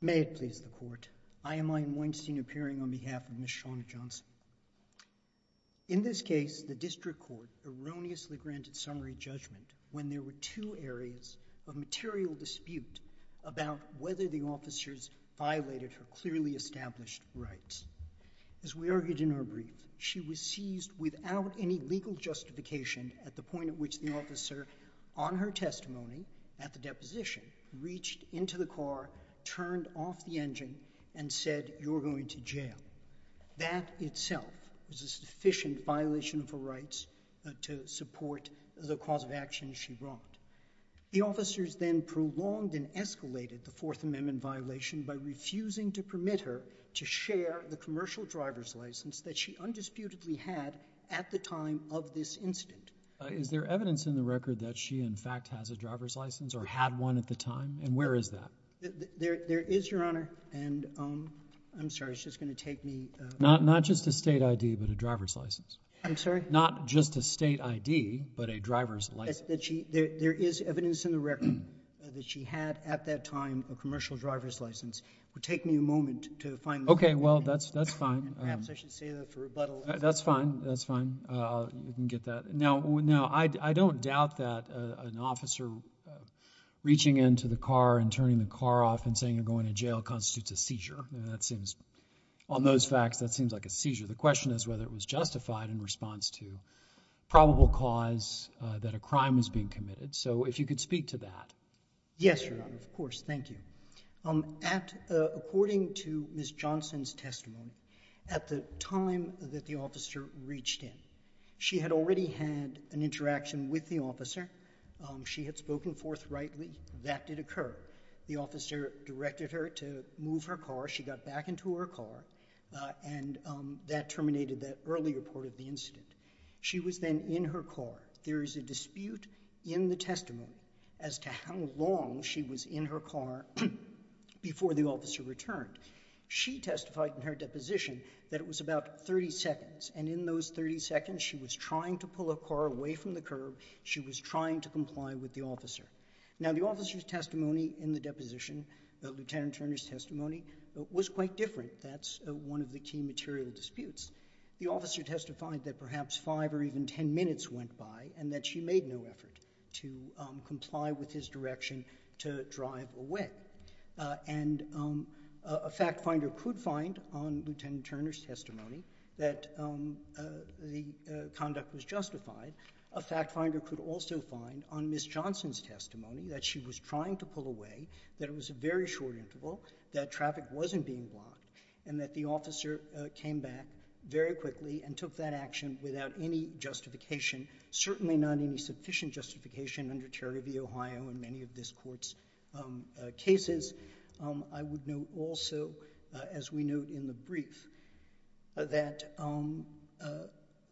May it please the Court, I, I.M. Weinstein, appearing on behalf of Ms. Shawna Johnson. In this case, the District Court erroneously granted summary judgment when there were two areas of material dispute about whether the officers violated her clearly established rights. As we argued in our brief, she was seized without any legal justification at the point at which the officer, on her testimony at the deposition, reached into the car, turned off the engine, and said, you're going to jail. That itself was a sufficient violation of her rights to support the cause of action she brought. The officers then prolonged and escalated the Fourth Amendment violation by refusing to permit her to share the commercial driver's license that she undisputedly had at the time of this incident. Is there evidence in the record that she, in fact, has a driver's license or had one at the time? And where is that? There is, Your Honor, and I'm sorry, it's just going to take me. Not just a state ID, but a driver's license. I'm sorry? Not just a state ID, but a driver's license. There is evidence in the record that she had, at that time, a commercial driver's license. It would take me a moment to find that. Okay. Well, that's, that's fine. Perhaps I should say that for rebuttal. That's fine. That's fine. You can get that. Now, I don't doubt that an officer reaching into the car and turning the car off and saying you're going to jail constitutes a seizure. That seems, on those facts, that seems like a seizure. The question is whether it was justified in response to probable cause that a crime was being committed. So, if you could speak to that. Yes, Your Honor. Of course. Thank you. At, according to Ms. Johnson's testimony, at the time that the officer reached in, she had already had an interaction with the officer. She had spoken forthrightly. That did occur. The officer directed her to move her car. She got back into her car, and that terminated that earlier part of the incident. She was then in her car. There is a dispute in the testimony as to how long she was in her car before the officer returned. She testified in her deposition that it was about 30 seconds, and in those 30 seconds, she was trying to pull her car away from the curb. She was trying to comply with the officer. Now, the officer's testimony in the deposition, Lieutenant Turner's testimony, was quite different. That's one of the key material disputes. The officer testified that perhaps 5 or even 10 minutes went by, and that she made no effort to comply with his direction to drive away. And a fact finder could find, on Lieutenant Turner's testimony, that the conduct was justified. A fact finder could also find, on Ms. Johnson's testimony, that she was trying to pull away, that it was a very short interval, that traffic wasn't being blocked, and that the officer came back very quickly and took that action without any justification, certainly not any of the other cases. I would note also, as we note in the brief, that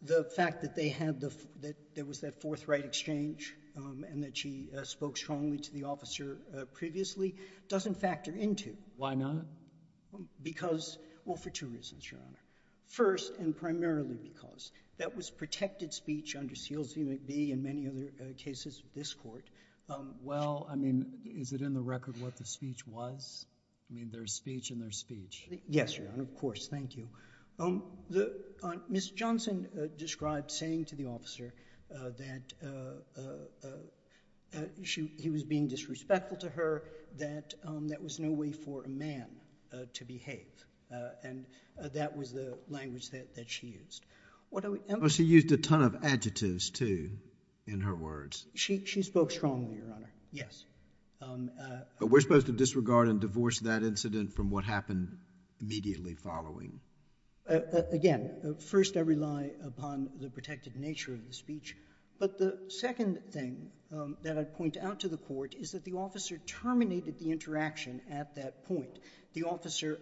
the fact that there was that forthright exchange and that she spoke strongly to the officer previously doesn't factor into... Why not? Because... well, for two reasons, Your Honor. First, and primarily because, that was protected speech under Seals v. McBee and many other cases with this Court. Well, I mean, is it in the record what the speech was? I mean, there's speech and there's speech. Yes, Your Honor. Of course. Thank you. Ms. Johnson described saying to the officer that he was being disrespectful to her, that there was no way for a man to behave, and that was the language that she used. She used a ton of adjectives, too, in her words. She spoke strongly, Your Honor. Yes. But we're supposed to disregard and divorce that incident from what happened immediately following. Again, first, I rely upon the protected nature of the speech. But the second thing that I'd point out to the Court is that the officer terminated the interaction at that point. The officer...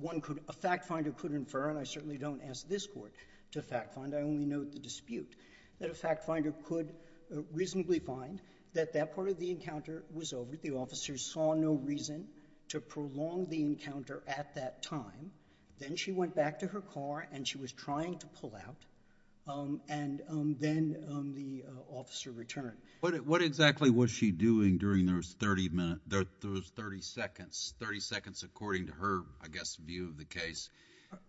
one could... a fact-finder could infer, and I certainly don't ask this dispute, that a fact-finder could reasonably find that that part of the encounter was over. The officer saw no reason to prolong the encounter at that time. Then she went back to her car and she was trying to pull out, and then the officer returned. What exactly was she doing during those 30 minutes, those 30 seconds, 30 seconds according to her, I guess, view of the case,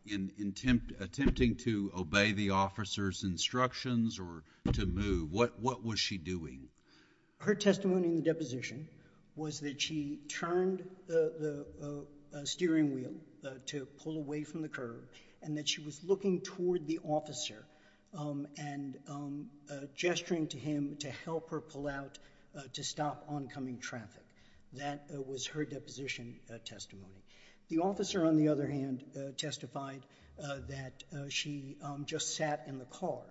in attempting to obey the officer's instructions or to move? What was she doing? Her testimony in the deposition was that she turned the steering wheel to pull away from the curb, and that she was looking toward the officer and gesturing to him to help her pull out to stop oncoming traffic. That was her deposition testimony. The officer, on the other hand, testified that she just sat in the car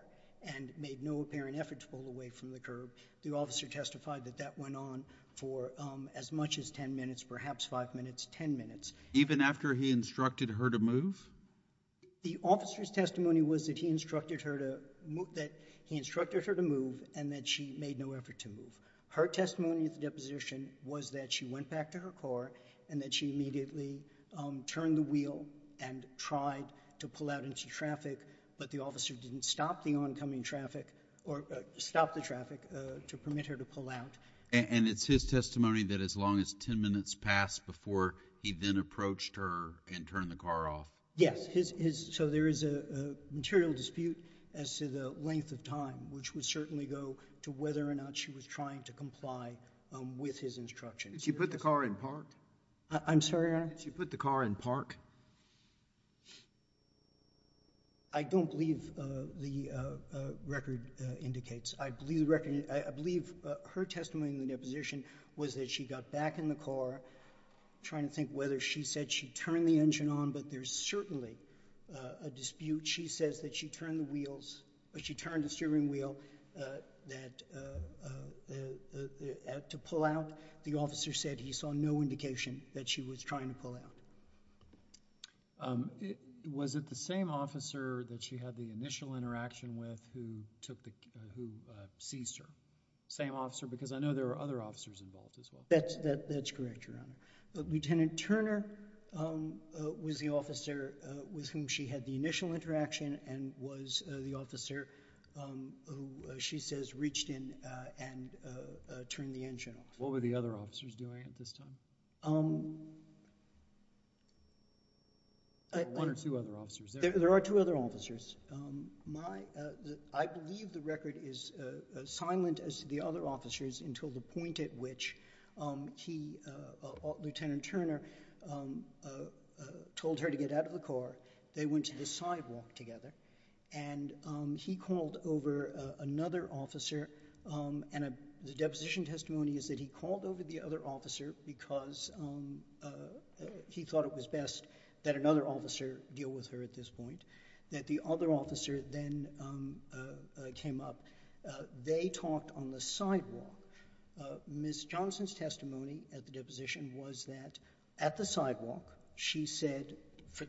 and made no apparent effort to pull away from the curb. The officer testified that that went on for as much as 10 minutes, perhaps 5 minutes, 10 minutes. Even after he instructed her to move? The officer's testimony was that he instructed her to move and that she made no effort to move. Her testimony at the deposition was that she went back to her car and that she immediately turned the wheel and tried to pull out into traffic, but the officer didn't stop the oncoming traffic or stop the traffic to permit her to pull out. And it's his testimony that as long as 10 minutes passed before he then approached her and turned the car off? Yes. So there is a material dispute as to the length of time, which would certainly go to whether or not she was trying to comply with his instructions. Did she put the car in park? I'm sorry, Your Honor? Did she put the car in park? I don't believe the record indicates. I believe her testimony in the deposition was that she got back in the car, trying to think whether she said she turned the engine on, but there's certainly a dispute. She says that she turned the steering wheel to pull out. The officer said he saw no indication that she was trying to pull out. Was it the same officer that she had the initial interaction with who seized her? Same officer? Because I know there were other officers involved as well. That's correct, Your Honor. But Lieutenant Turner was the officer with whom she had the initial interaction and was the officer who she says reached in and turned the engine off. What were the other officers doing at this time? One or two other officers. There are two other officers. I believe the record is as silent as the other officers until the point at which Lieutenant Turner told her to get out of the car. They went to the sidewalk together and he called over another officer and the deposition testimony is that he called over the other officer because he thought it was best that another officer deal with her at this point. That the other officer then came up. They talked on the sidewalk. Ms. Johnson's testimony at the deposition was that at the sidewalk, she said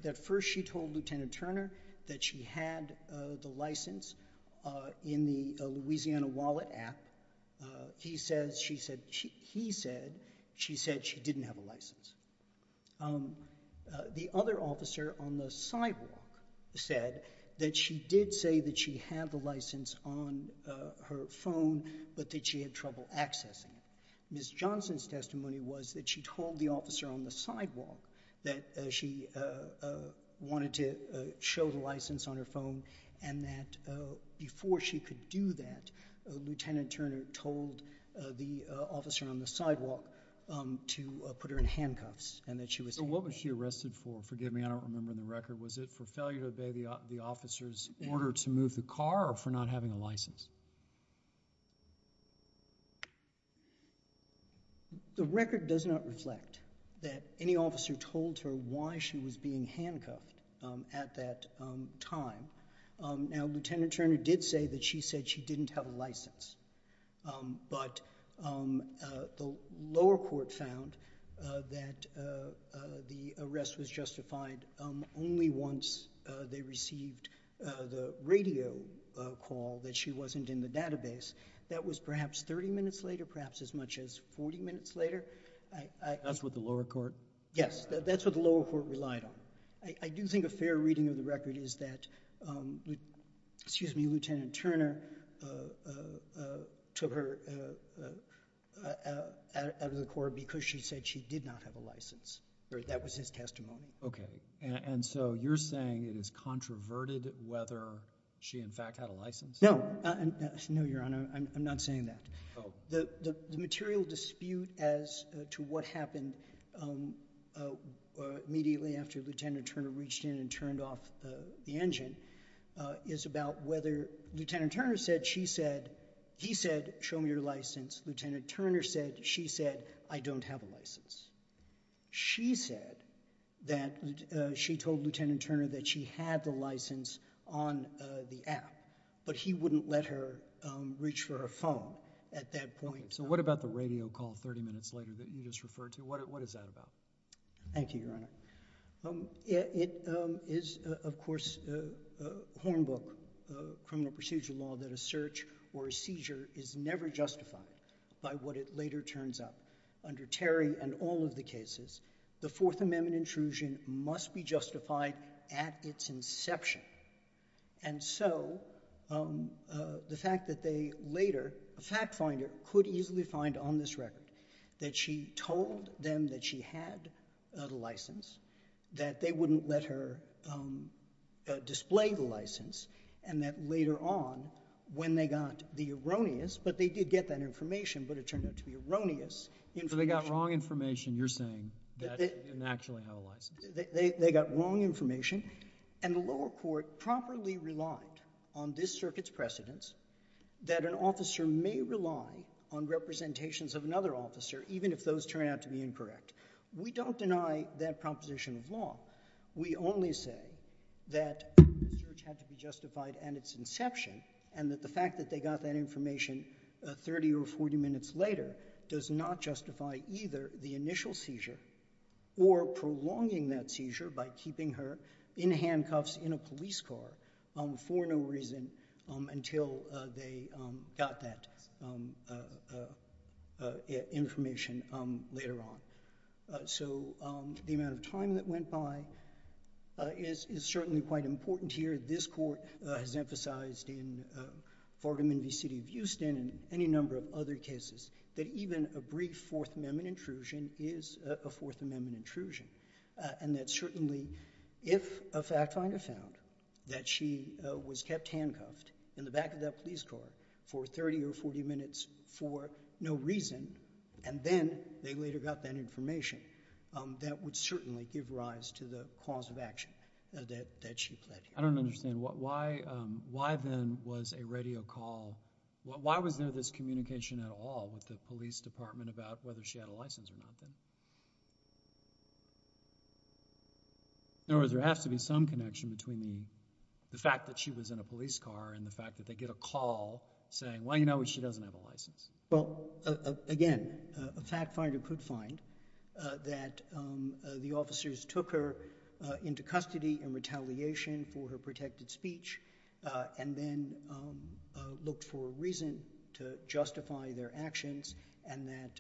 that first she told Lieutenant Turner that she had the license in the Louisiana Wallet app. He said she didn't have a license. The other officer on the sidewalk said that she did say that she had the license on her phone but that she had trouble accessing it. Ms. Johnson's testimony was that she told the officer on the sidewalk that she wanted to show the license on her phone and that before she could do that, Lieutenant Turner told the officer on the sidewalk to put her in handcuffs. What was she arrested for? Forgive me. I don't remember the record. Was it for failure to obey the officer's order to move the car or for not having a license? The record does not reflect that any officer told her why she was being handcuffed at that time. Now, Lieutenant Turner did say that she said she didn't have a license but the lower court found that the arrest was justified only once they received the radio call that she wasn't in the database. That was perhaps thirty minutes later, perhaps as much as forty minutes later. That's what the lower court... Yes, that's what the lower court relied on. I do think a fair reading of the record is that Lieutenant Turner took her out of the court because she said she did not have a license. That was his testimony. Okay. And so you're saying it is controverted whether she in fact had a license? No. No, Your Honor. I'm not saying that. The material dispute as to what happened immediately after Lieutenant Turner reached in and turned off the engine is about whether... Lieutenant Turner said she said... he said show me your license. Lieutenant Turner said... she said I don't have a license. She said that... she told Lieutenant Turner that she had the license on the phone at that point. So what about the radio call thirty minutes later that you just referred to? What is that about? Thank you, Your Honor. It is, of course, Hornbook criminal procedure law that a search or a seizure is never justified by what it later turns up. Under Terry and all of the cases, the Fourth Amendment intrusion must be justified at its inception. And so the fact that they later... a fact finder could easily find on this record that she told them that she had the license, that they wouldn't let her display the license, and that later on when they got the erroneous, but they did get that information, but it turned out to be erroneous information... So they got wrong information, you're saying, that she didn't actually have a license? They got wrong information, and the lower court properly relied on this circuit's precedence that an officer may rely on representations of another officer, even if those turn out to be incorrect. We don't deny that proposition of law. We only say that the search had to be justified at its inception, and that the fact that they got that information thirty or forty minutes later does not justify either the initial seizure or prolonging that seizure by keeping her in handcuffs in a police car for no reason until they got that information later on. So the amount of time that went by is certainly quite important here. This Court has emphasized in Fargham v. City of Houston and any number of other cases that even a brief Fourth Amendment intrusion is a Fourth Amendment intrusion, and that certainly if a fact finder found that she was kept handcuffed in the back of that police car for thirty or forty minutes for no reason, and then they later got that information, that would certainly give rise to the cause of action that she pled here. I don't understand. Why then was a radio call... why was there this communication at all with the police department about whether she had a license or not then? In other words, there has to be some connection between the fact that she was in a police car and the fact that they get a call saying, well, you know what, she doesn't have a license. Well, again, a fact finder could find that the officers took her into custody in retaliation for her protected speech and then looked for a reason to justify their actions and that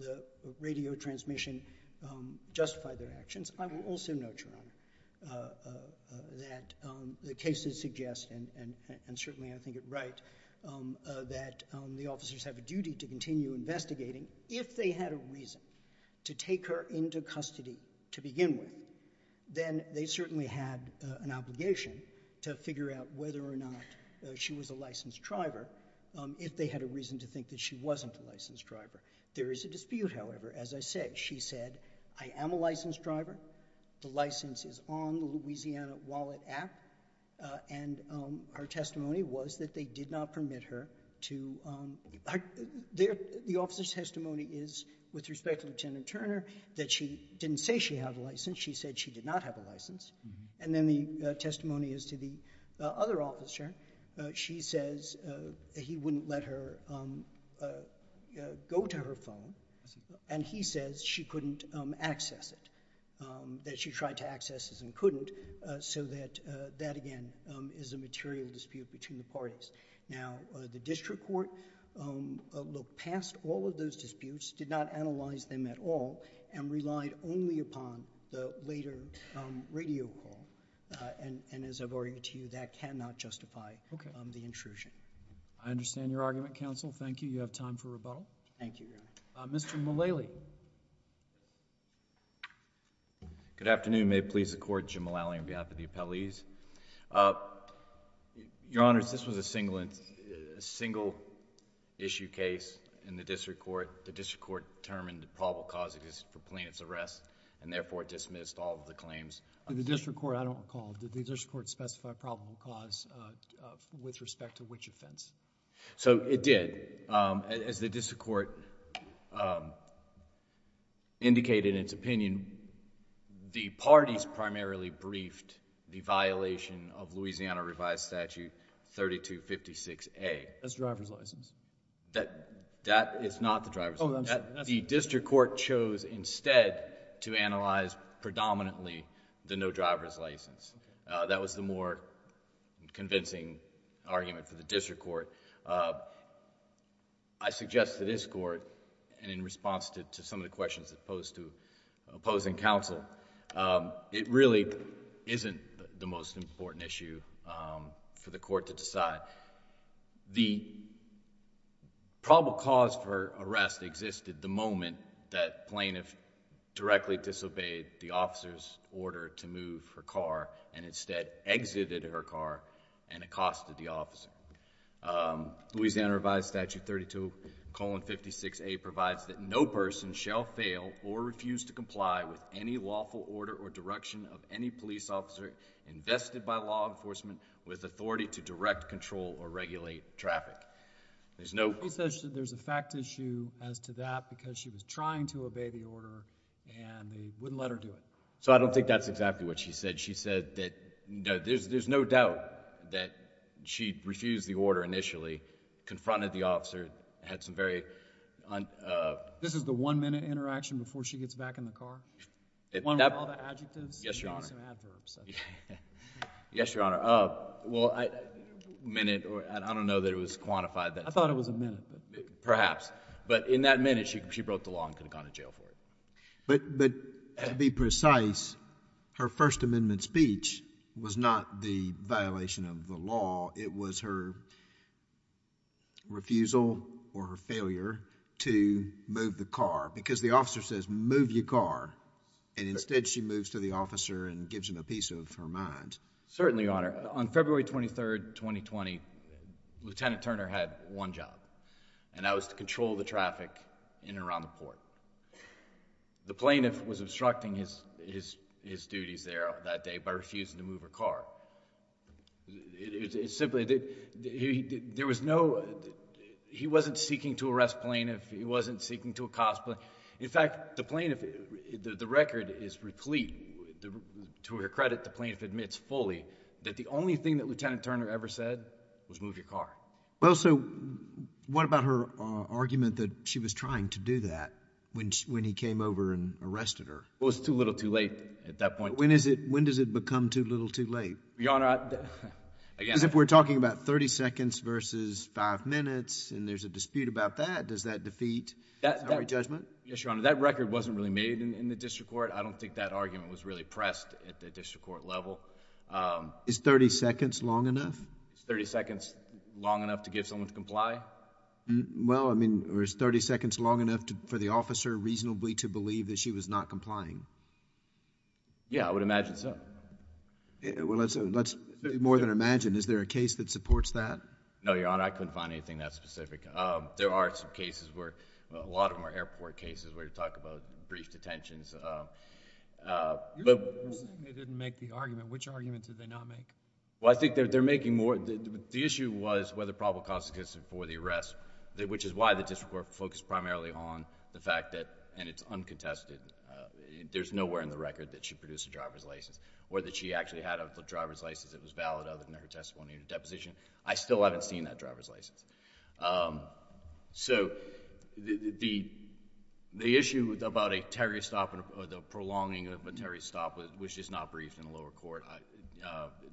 the radio transmission justified their actions. I will also note, Your Honor, that the cases suggest, and certainly I think it right, that the officers have a duty to continue investigating if they had a reason to take her into custody to begin with. Then they certainly had an obligation to figure out whether or not she was a licensed driver, if they had a reason to think that she wasn't a licensed driver. There is a dispute, however, as I said. She said, I am a licensed driver. The license is on the Louisiana Wallet app. And our testimony was that they did not permit her to... the officer's wife, Lieutenant Turner, that she didn't say she had a license. She said she did not have a license. And then the testimony is to the other officer. She says he wouldn't let her go to her phone. And he says she couldn't access it, that she tried to access it and couldn't, so that, again, is a material dispute between the parties. Now, the district court looked past all of those disputes, did not analyze them at all, and relied only upon the later radio call. And as I've already told you, that cannot justify the intrusion. Okay. I understand your argument, counsel. Thank you. You have time for rebuttal. Thank you, Your Honor. Mr. Mulally. Good afternoon. May it please the Court, Jim Mulally, on behalf of the appellees. Your Honors, this was a single issue case in the district court. The district court determined that probable cause exists for plaintiff's arrest and therefore dismissed all of the claims. The district court, I don't recall, did the district court specify probable cause with respect to which offense? So, it did. As the district court indicated in its opinion, the parties primarily briefed the violation of Louisiana Revised Statute 3256A. That's driver's license. That is not the driver's license. Oh, I'm sorry. The district court chose instead to analyze predominantly the no driver's license. Okay. That was the more convincing argument for the district court. I suggest to this court, and in response to some of the questions posed to opposing counsel, it really isn't the most important issue for the court to decide. The probable cause for arrest existed the moment that plaintiff directly disobeyed the officer's order to move her car and instead exited her car and accosted the officer. Louisiana Revised Statute 3256A provides that no person shall fail or refuse to comply with any lawful order or direction of any police officer invested by law enforcement with authority to direct, control, or regulate traffic. There's no... She says that there's a fact issue as to that because she was trying to obey the order and they wouldn't let her do it. So, I don't think that's exactly what she said. She said that there's no doubt that she refused the order initially, confronted the officer, had some very... This is the one-minute interaction before she gets back in the car? One with all the adjectives? Yes, Your Honor. Maybe some adverbs. Yes, Your Honor. Well, I don't know that it was quantified. I thought it was a minute. Perhaps. But in that minute, she broke the law and could have gone to jail for it. But to be precise, her First Amendment speech was not the violation of the law. It was her refusal or her failure to move the car. Because the officer says, move your car. And instead, she moves to the officer and gives him a piece of her mind. Certainly, Your Honor. On February 23, 2020, Lieutenant Turner had one job. And that was to control the traffic in and around the port. The plaintiff was obstructing his duties there that day by refusing to move her car. It's simply... There was no... He wasn't seeking to arrest plaintiff. He wasn't seeking to accost plaintiff. In fact, the record is replete. To her credit, the plaintiff admits fully that the only thing that Lieutenant Turner ever said was move your car. Well, so what about her argument that she was trying to do that when he came over and arrested her? Well, it was too little too late at that point. But when does it become too little too late? Your Honor, again... Because if we're talking about 30 seconds versus five minutes, and there's a dispute about that, does that defeat her judgment? Yes, Your Honor. That record wasn't really made in the district court. I don't think that argument was really pressed at the district court level. Is 30 seconds long enough? Is 30 seconds long enough to get someone to comply? Well, I mean, or is 30 seconds long enough for the officer reasonably to believe that she was not complying? Yeah, I would imagine so. Well, let's be more than imagined. Is there a case that supports that? No, Your Honor. I couldn't find anything that specific. There are some cases where... a lot of them are airport cases where you talk about brief detentions. You're saying they didn't make the argument. Which argument did they not make? Well, I think they're making more... The issue was whether probable cause is consistent for the arrest, which is why the district court focused primarily on the fact that... I mean, there's nowhere in the record that she produced a driver's license or that she actually had a driver's license that was valid other than her testimony in a deposition. I still haven't seen that driver's license. So, the issue about a Terry stop or the prolonging of a Terry stop was just not briefed in the lower court.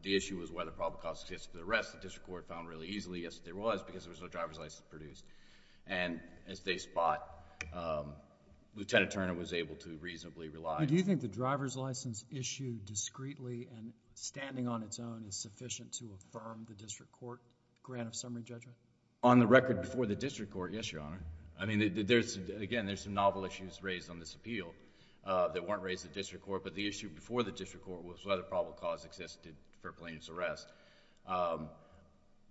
The issue was whether probable cause is consistent for the arrest. The district court found really easily, yes, there was, because there was no driver's license produced. And, as they spot, Lieutenant Turner was able to reasonably rely... Do you think the driver's license issued discreetly and standing on its own is sufficient to affirm the district court grant of summary judgment? On the record before the district court, yes, Your Honor. I mean, there's... again, there's some novel issues raised on this appeal that weren't raised at the district court. But, the issue before the district court was whether probable cause existed for Plaintiff's arrest.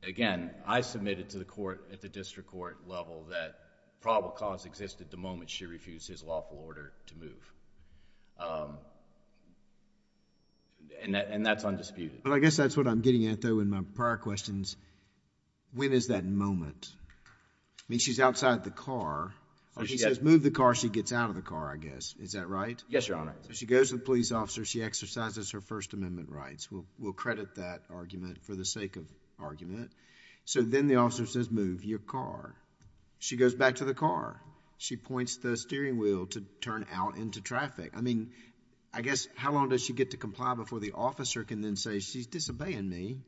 Again, I submitted to the court at the district court level that probable cause existed the moment she refused his lawful order to move. And, that's undisputed. Well, I guess that's what I'm getting at though in my prior questions. When is that moment? I mean, she's outside the car. When she says move the car, she gets out of the car, I guess. Is that right? Yes, Your Honor. So, she goes to the police officer. She exercises her First Amendment rights. We'll credit that argument for the sake of argument. So, then the officer says move your car. She goes back to the car. She points the steering wheel to turn out into traffic. I mean, I guess how long does she get to comply before the officer can then say she's disobeying me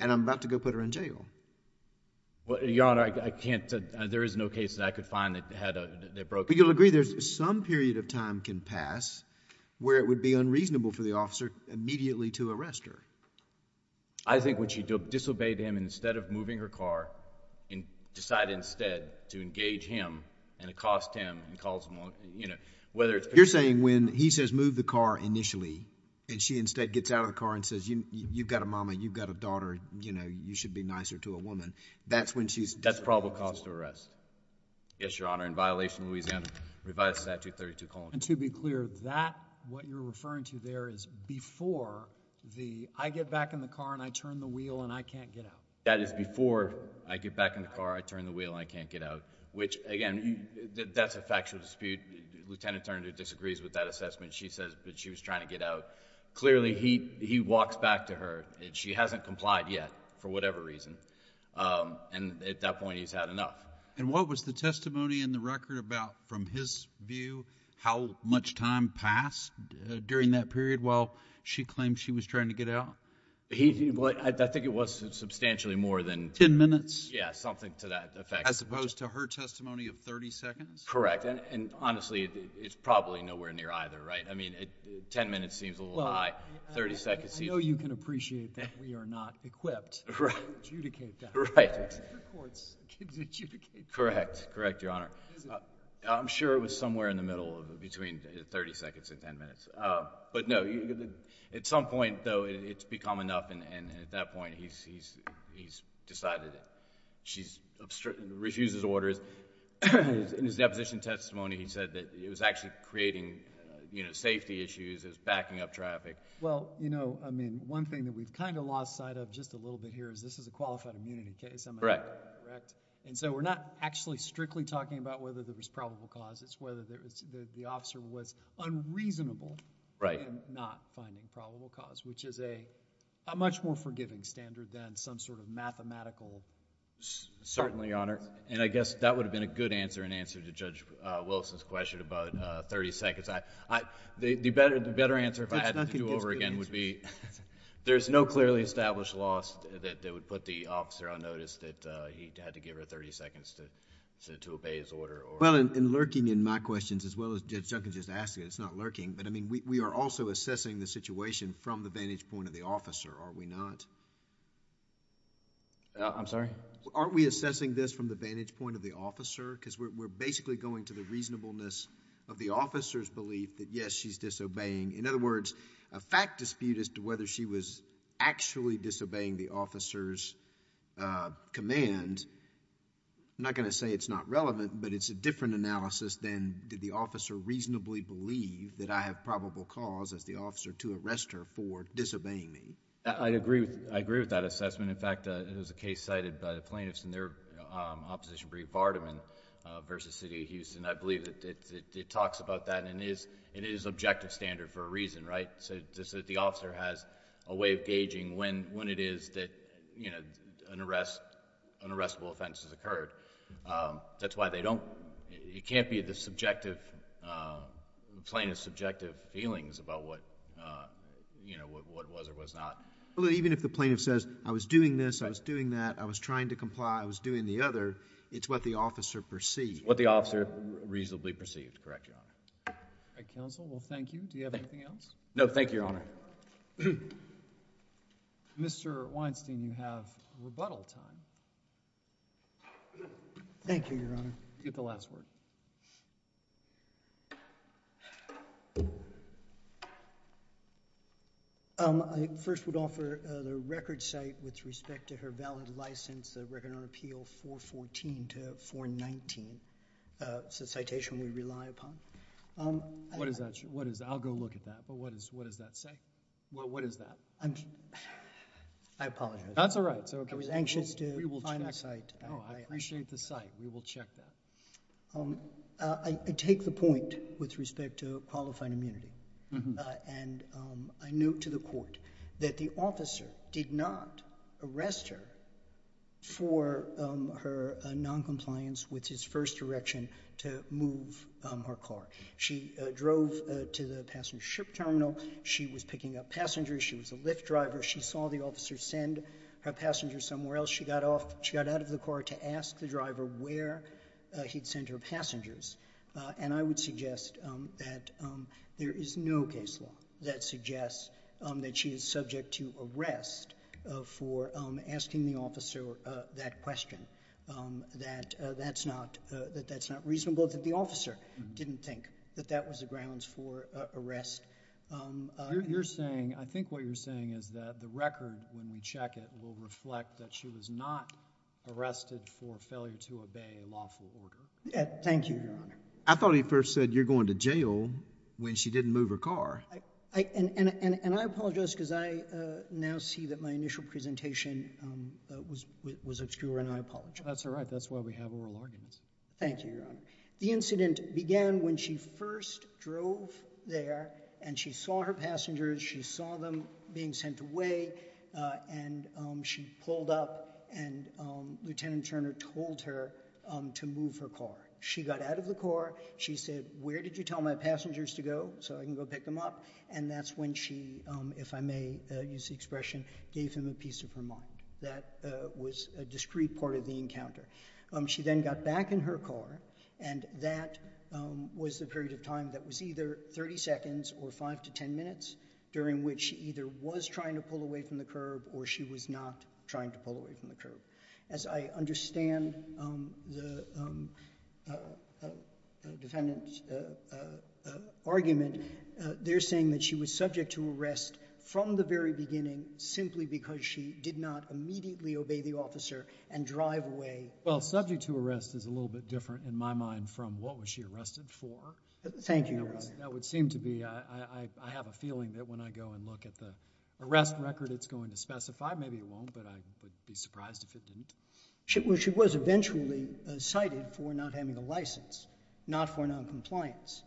and I'm about to go put her in jail? Well, Your Honor, I can't... there is no case that I could find that had a... that broke... I mean, you'll agree there's some period of time can pass where it would be unreasonable for the officer immediately to arrest her. I think when she disobeyed him instead of moving her car and decided instead to engage him and accost him and calls him on, you know, whether it's... You're saying when he says move the car initially and she instead gets out of the car and says you've got a mama, you've got a daughter, you know, you should be nicer to a woman, that's when she's... That's probable cause to arrest. Yes, Your Honor. In violation of Louisiana Revised Statute 32. And to be clear, that... what you're referring to there is before the I get back in the car and I turn the wheel and I can't get out. That is before I get back in the car, I turn the wheel and I can't get out. Which, again, that's a factual dispute. Lieutenant Turner disagrees with that assessment. She says that she was trying to get out. Clearly, he walks back to her and she hasn't complied yet for whatever reason. And at that point, he's had enough. And what was the testimony in the record about, from his view, how much time passed during that period while she claimed she was trying to get out? I think it was substantially more than... Ten minutes? Yeah, something to that effect. As opposed to her testimony of 30 seconds? Correct. And honestly, it's probably nowhere near either, right? I mean, 10 minutes seems a little high. 30 seconds seems... I know you can appreciate that we are not equipped to adjudicate that. Right. The courts can adjudicate that. Correct. Correct, Your Honor. I'm sure it was somewhere in the middle, between 30 seconds and 10 minutes. But no, at some point, though, it's become enough. And at that point, he's decided that she refuses orders. In his deposition testimony, he said that it was actually creating safety issues. It was backing up traffic. Well, you know, I mean, one thing that we've kind of lost sight of just a little bit here is this is a qualified immunity case. Am I correct? Correct. And so we're not actually strictly talking about whether there was probable cause. It's whether the officer was unreasonable in not finding probable cause, which is a much more forgiving standard than some sort of mathematical... Certainly, Your Honor. And I guess that would have been a good answer in answer to Judge Wilson's question about 30 seconds. The better answer, if I had to do over again, would be there's no clearly established loss that would put the officer on notice that he had to give her 30 seconds to obey his order. Well, in lurking in my questions, as well as Judge Duncan just asked, it's not lurking. But, I mean, we are also assessing the situation from the vantage point of the officer, are we not? I'm sorry? Aren't we assessing this from the vantage point of the officer? Because we're basically going to the reasonableness of the officer's belief that, yes, she's disobeying. In other words, a fact dispute as to whether she was actually disobeying the officer's command, I'm not going to say it's not relevant. But, it's a different analysis than did the officer reasonably believe that I have probable cause as the officer to arrest her for disobeying me. I agree with that assessment. In fact, there was a case cited by the plaintiffs in their opposition brief, Vardaman v. City of Houston. I believe that it talks about that, and it is objective standard for a reason, right? So, the officer has a way of gauging when it is that an arrestable offense has occurred. That's why they don't—it can't be the plaintiff's subjective feelings about what was or was not. Even if the plaintiff says, I was doing this, I was doing that, I was trying to comply, I was doing the other, it's what the officer perceived. It's what the officer reasonably perceived. Correct, Your Honor. All right, counsel. Well, thank you. Do you have anything else? No, thank you, Your Honor. Mr. Weinstein, you have rebuttal time. Thank you, Your Honor. You get the last word. I first would offer the record site with respect to her valid license, the Record and Order Appeal 414 to 419. It's a citation we rely upon. What is that? I'll go look at that, but what does that say? Well, what is that? I apologize. That's all right. I was anxious to find that site. Oh, I appreciate the site. We will check that. I take the point with respect to qualified immunity. And I note to the court that the officer did not arrest her for her noncompliance with his first direction to move her car. She drove to the passenger ship terminal. She was picking up passengers. She was a Lyft driver. She saw the officer send her passenger somewhere else. She got out of the car to ask the driver where he'd sent her passengers. And I would suggest that there is no case law that suggests that she is subject to arrest for asking the officer that question, that that's not reasonable, that the officer didn't think that that was the grounds for arrest. I think what you're saying is that the record, when we check it, will reflect that she was not arrested for failure to obey a lawful order. Thank you, Your Honor. I thought he first said you're going to jail when she didn't move her car. And I apologize because I now see that my initial presentation was obscure, and I apologize. That's all right. Thank you, Your Honor. The incident began when she first drove there, and she saw her passengers. She saw them being sent away, and she pulled up, and Lieutenant Turner told her to move her car. She got out of the car. She said, where did you tell my passengers to go so I can go pick them up? And that's when she, if I may use the expression, gave him a piece of her mind. That was a discrete part of the encounter. She then got back in her car, and that was the period of time that was either 30 seconds or 5 to 10 minutes, during which she either was trying to pull away from the curb or she was not trying to pull away from the curb. As I understand the defendant's argument, they're saying that she was subject to arrest from the very beginning simply because she did not immediately obey the officer and drive away. Well, subject to arrest is a little bit different in my mind from what was she arrested for. Thank you, Your Honor. That would seem to be, I have a feeling that when I go and look at the arrest record, it's going to specify. Maybe it won't, but I would be surprised if it didn't. She was eventually cited for not having a license, not for noncompliance.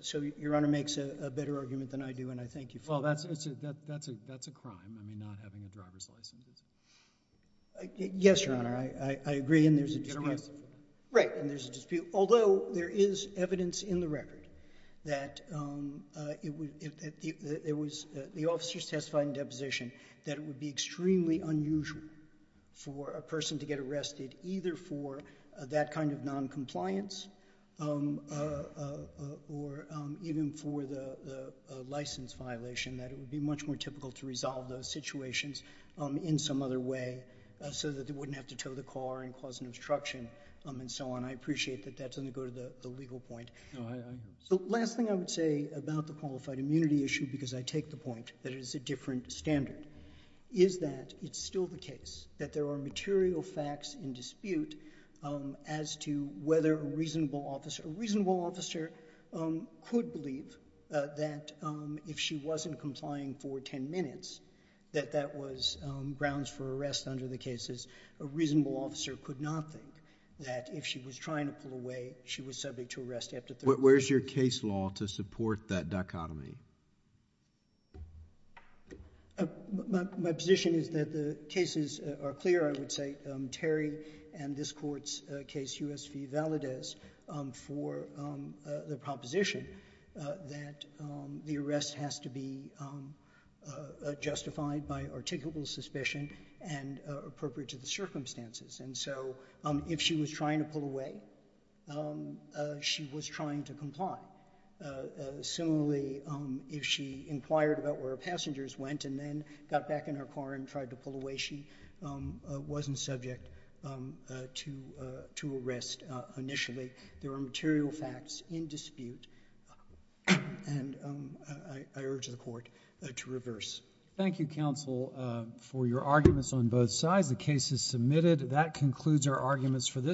So Your Honor makes a better argument than I do, and I thank you for that. Well, that's a crime, I mean, not having a driver's license. Yes, Your Honor. I agree, and there's a dispute. Get arrested. Right, and there's a dispute. Although there is evidence in the record that the officers testified in deposition that it would be extremely unusual for a person to get arrested either for that kind of noncompliance or even for the license violation, that it would be much more typical to resolve those situations in some other way so that they wouldn't have to tow the car and cause an obstruction and so on. I appreciate that that doesn't go to the legal point. The last thing I would say about the qualified immunity issue, because I take the point that it is a different standard, is that it's still the case that there are material facts in dispute as to whether a reasonable officer... A reasonable officer could believe that if she wasn't complying for ten minutes, that that was grounds for arrest under the cases. A reasonable officer could not think that if she was trying to pull away, she was subject to arrest after thirty minutes. Where's your case law to support that dichotomy? My position is that the cases are clear, I would say. Terry and this Court's case, U.S. v. Valadez, for the proposition that the arrest has to be justified by articulable suspicion and appropriate to the circumstances. And so if she was trying to pull away, she was trying to comply. Similarly, if she inquired about where her passengers went and then got back in her car and tried to pull away, she wasn't subject to arrest initially. There are material facts in dispute, and I urge the Court to reverse. Thank you, Counsel, for your arguments on both sides. The case is submitted. That concludes our arguments for this case.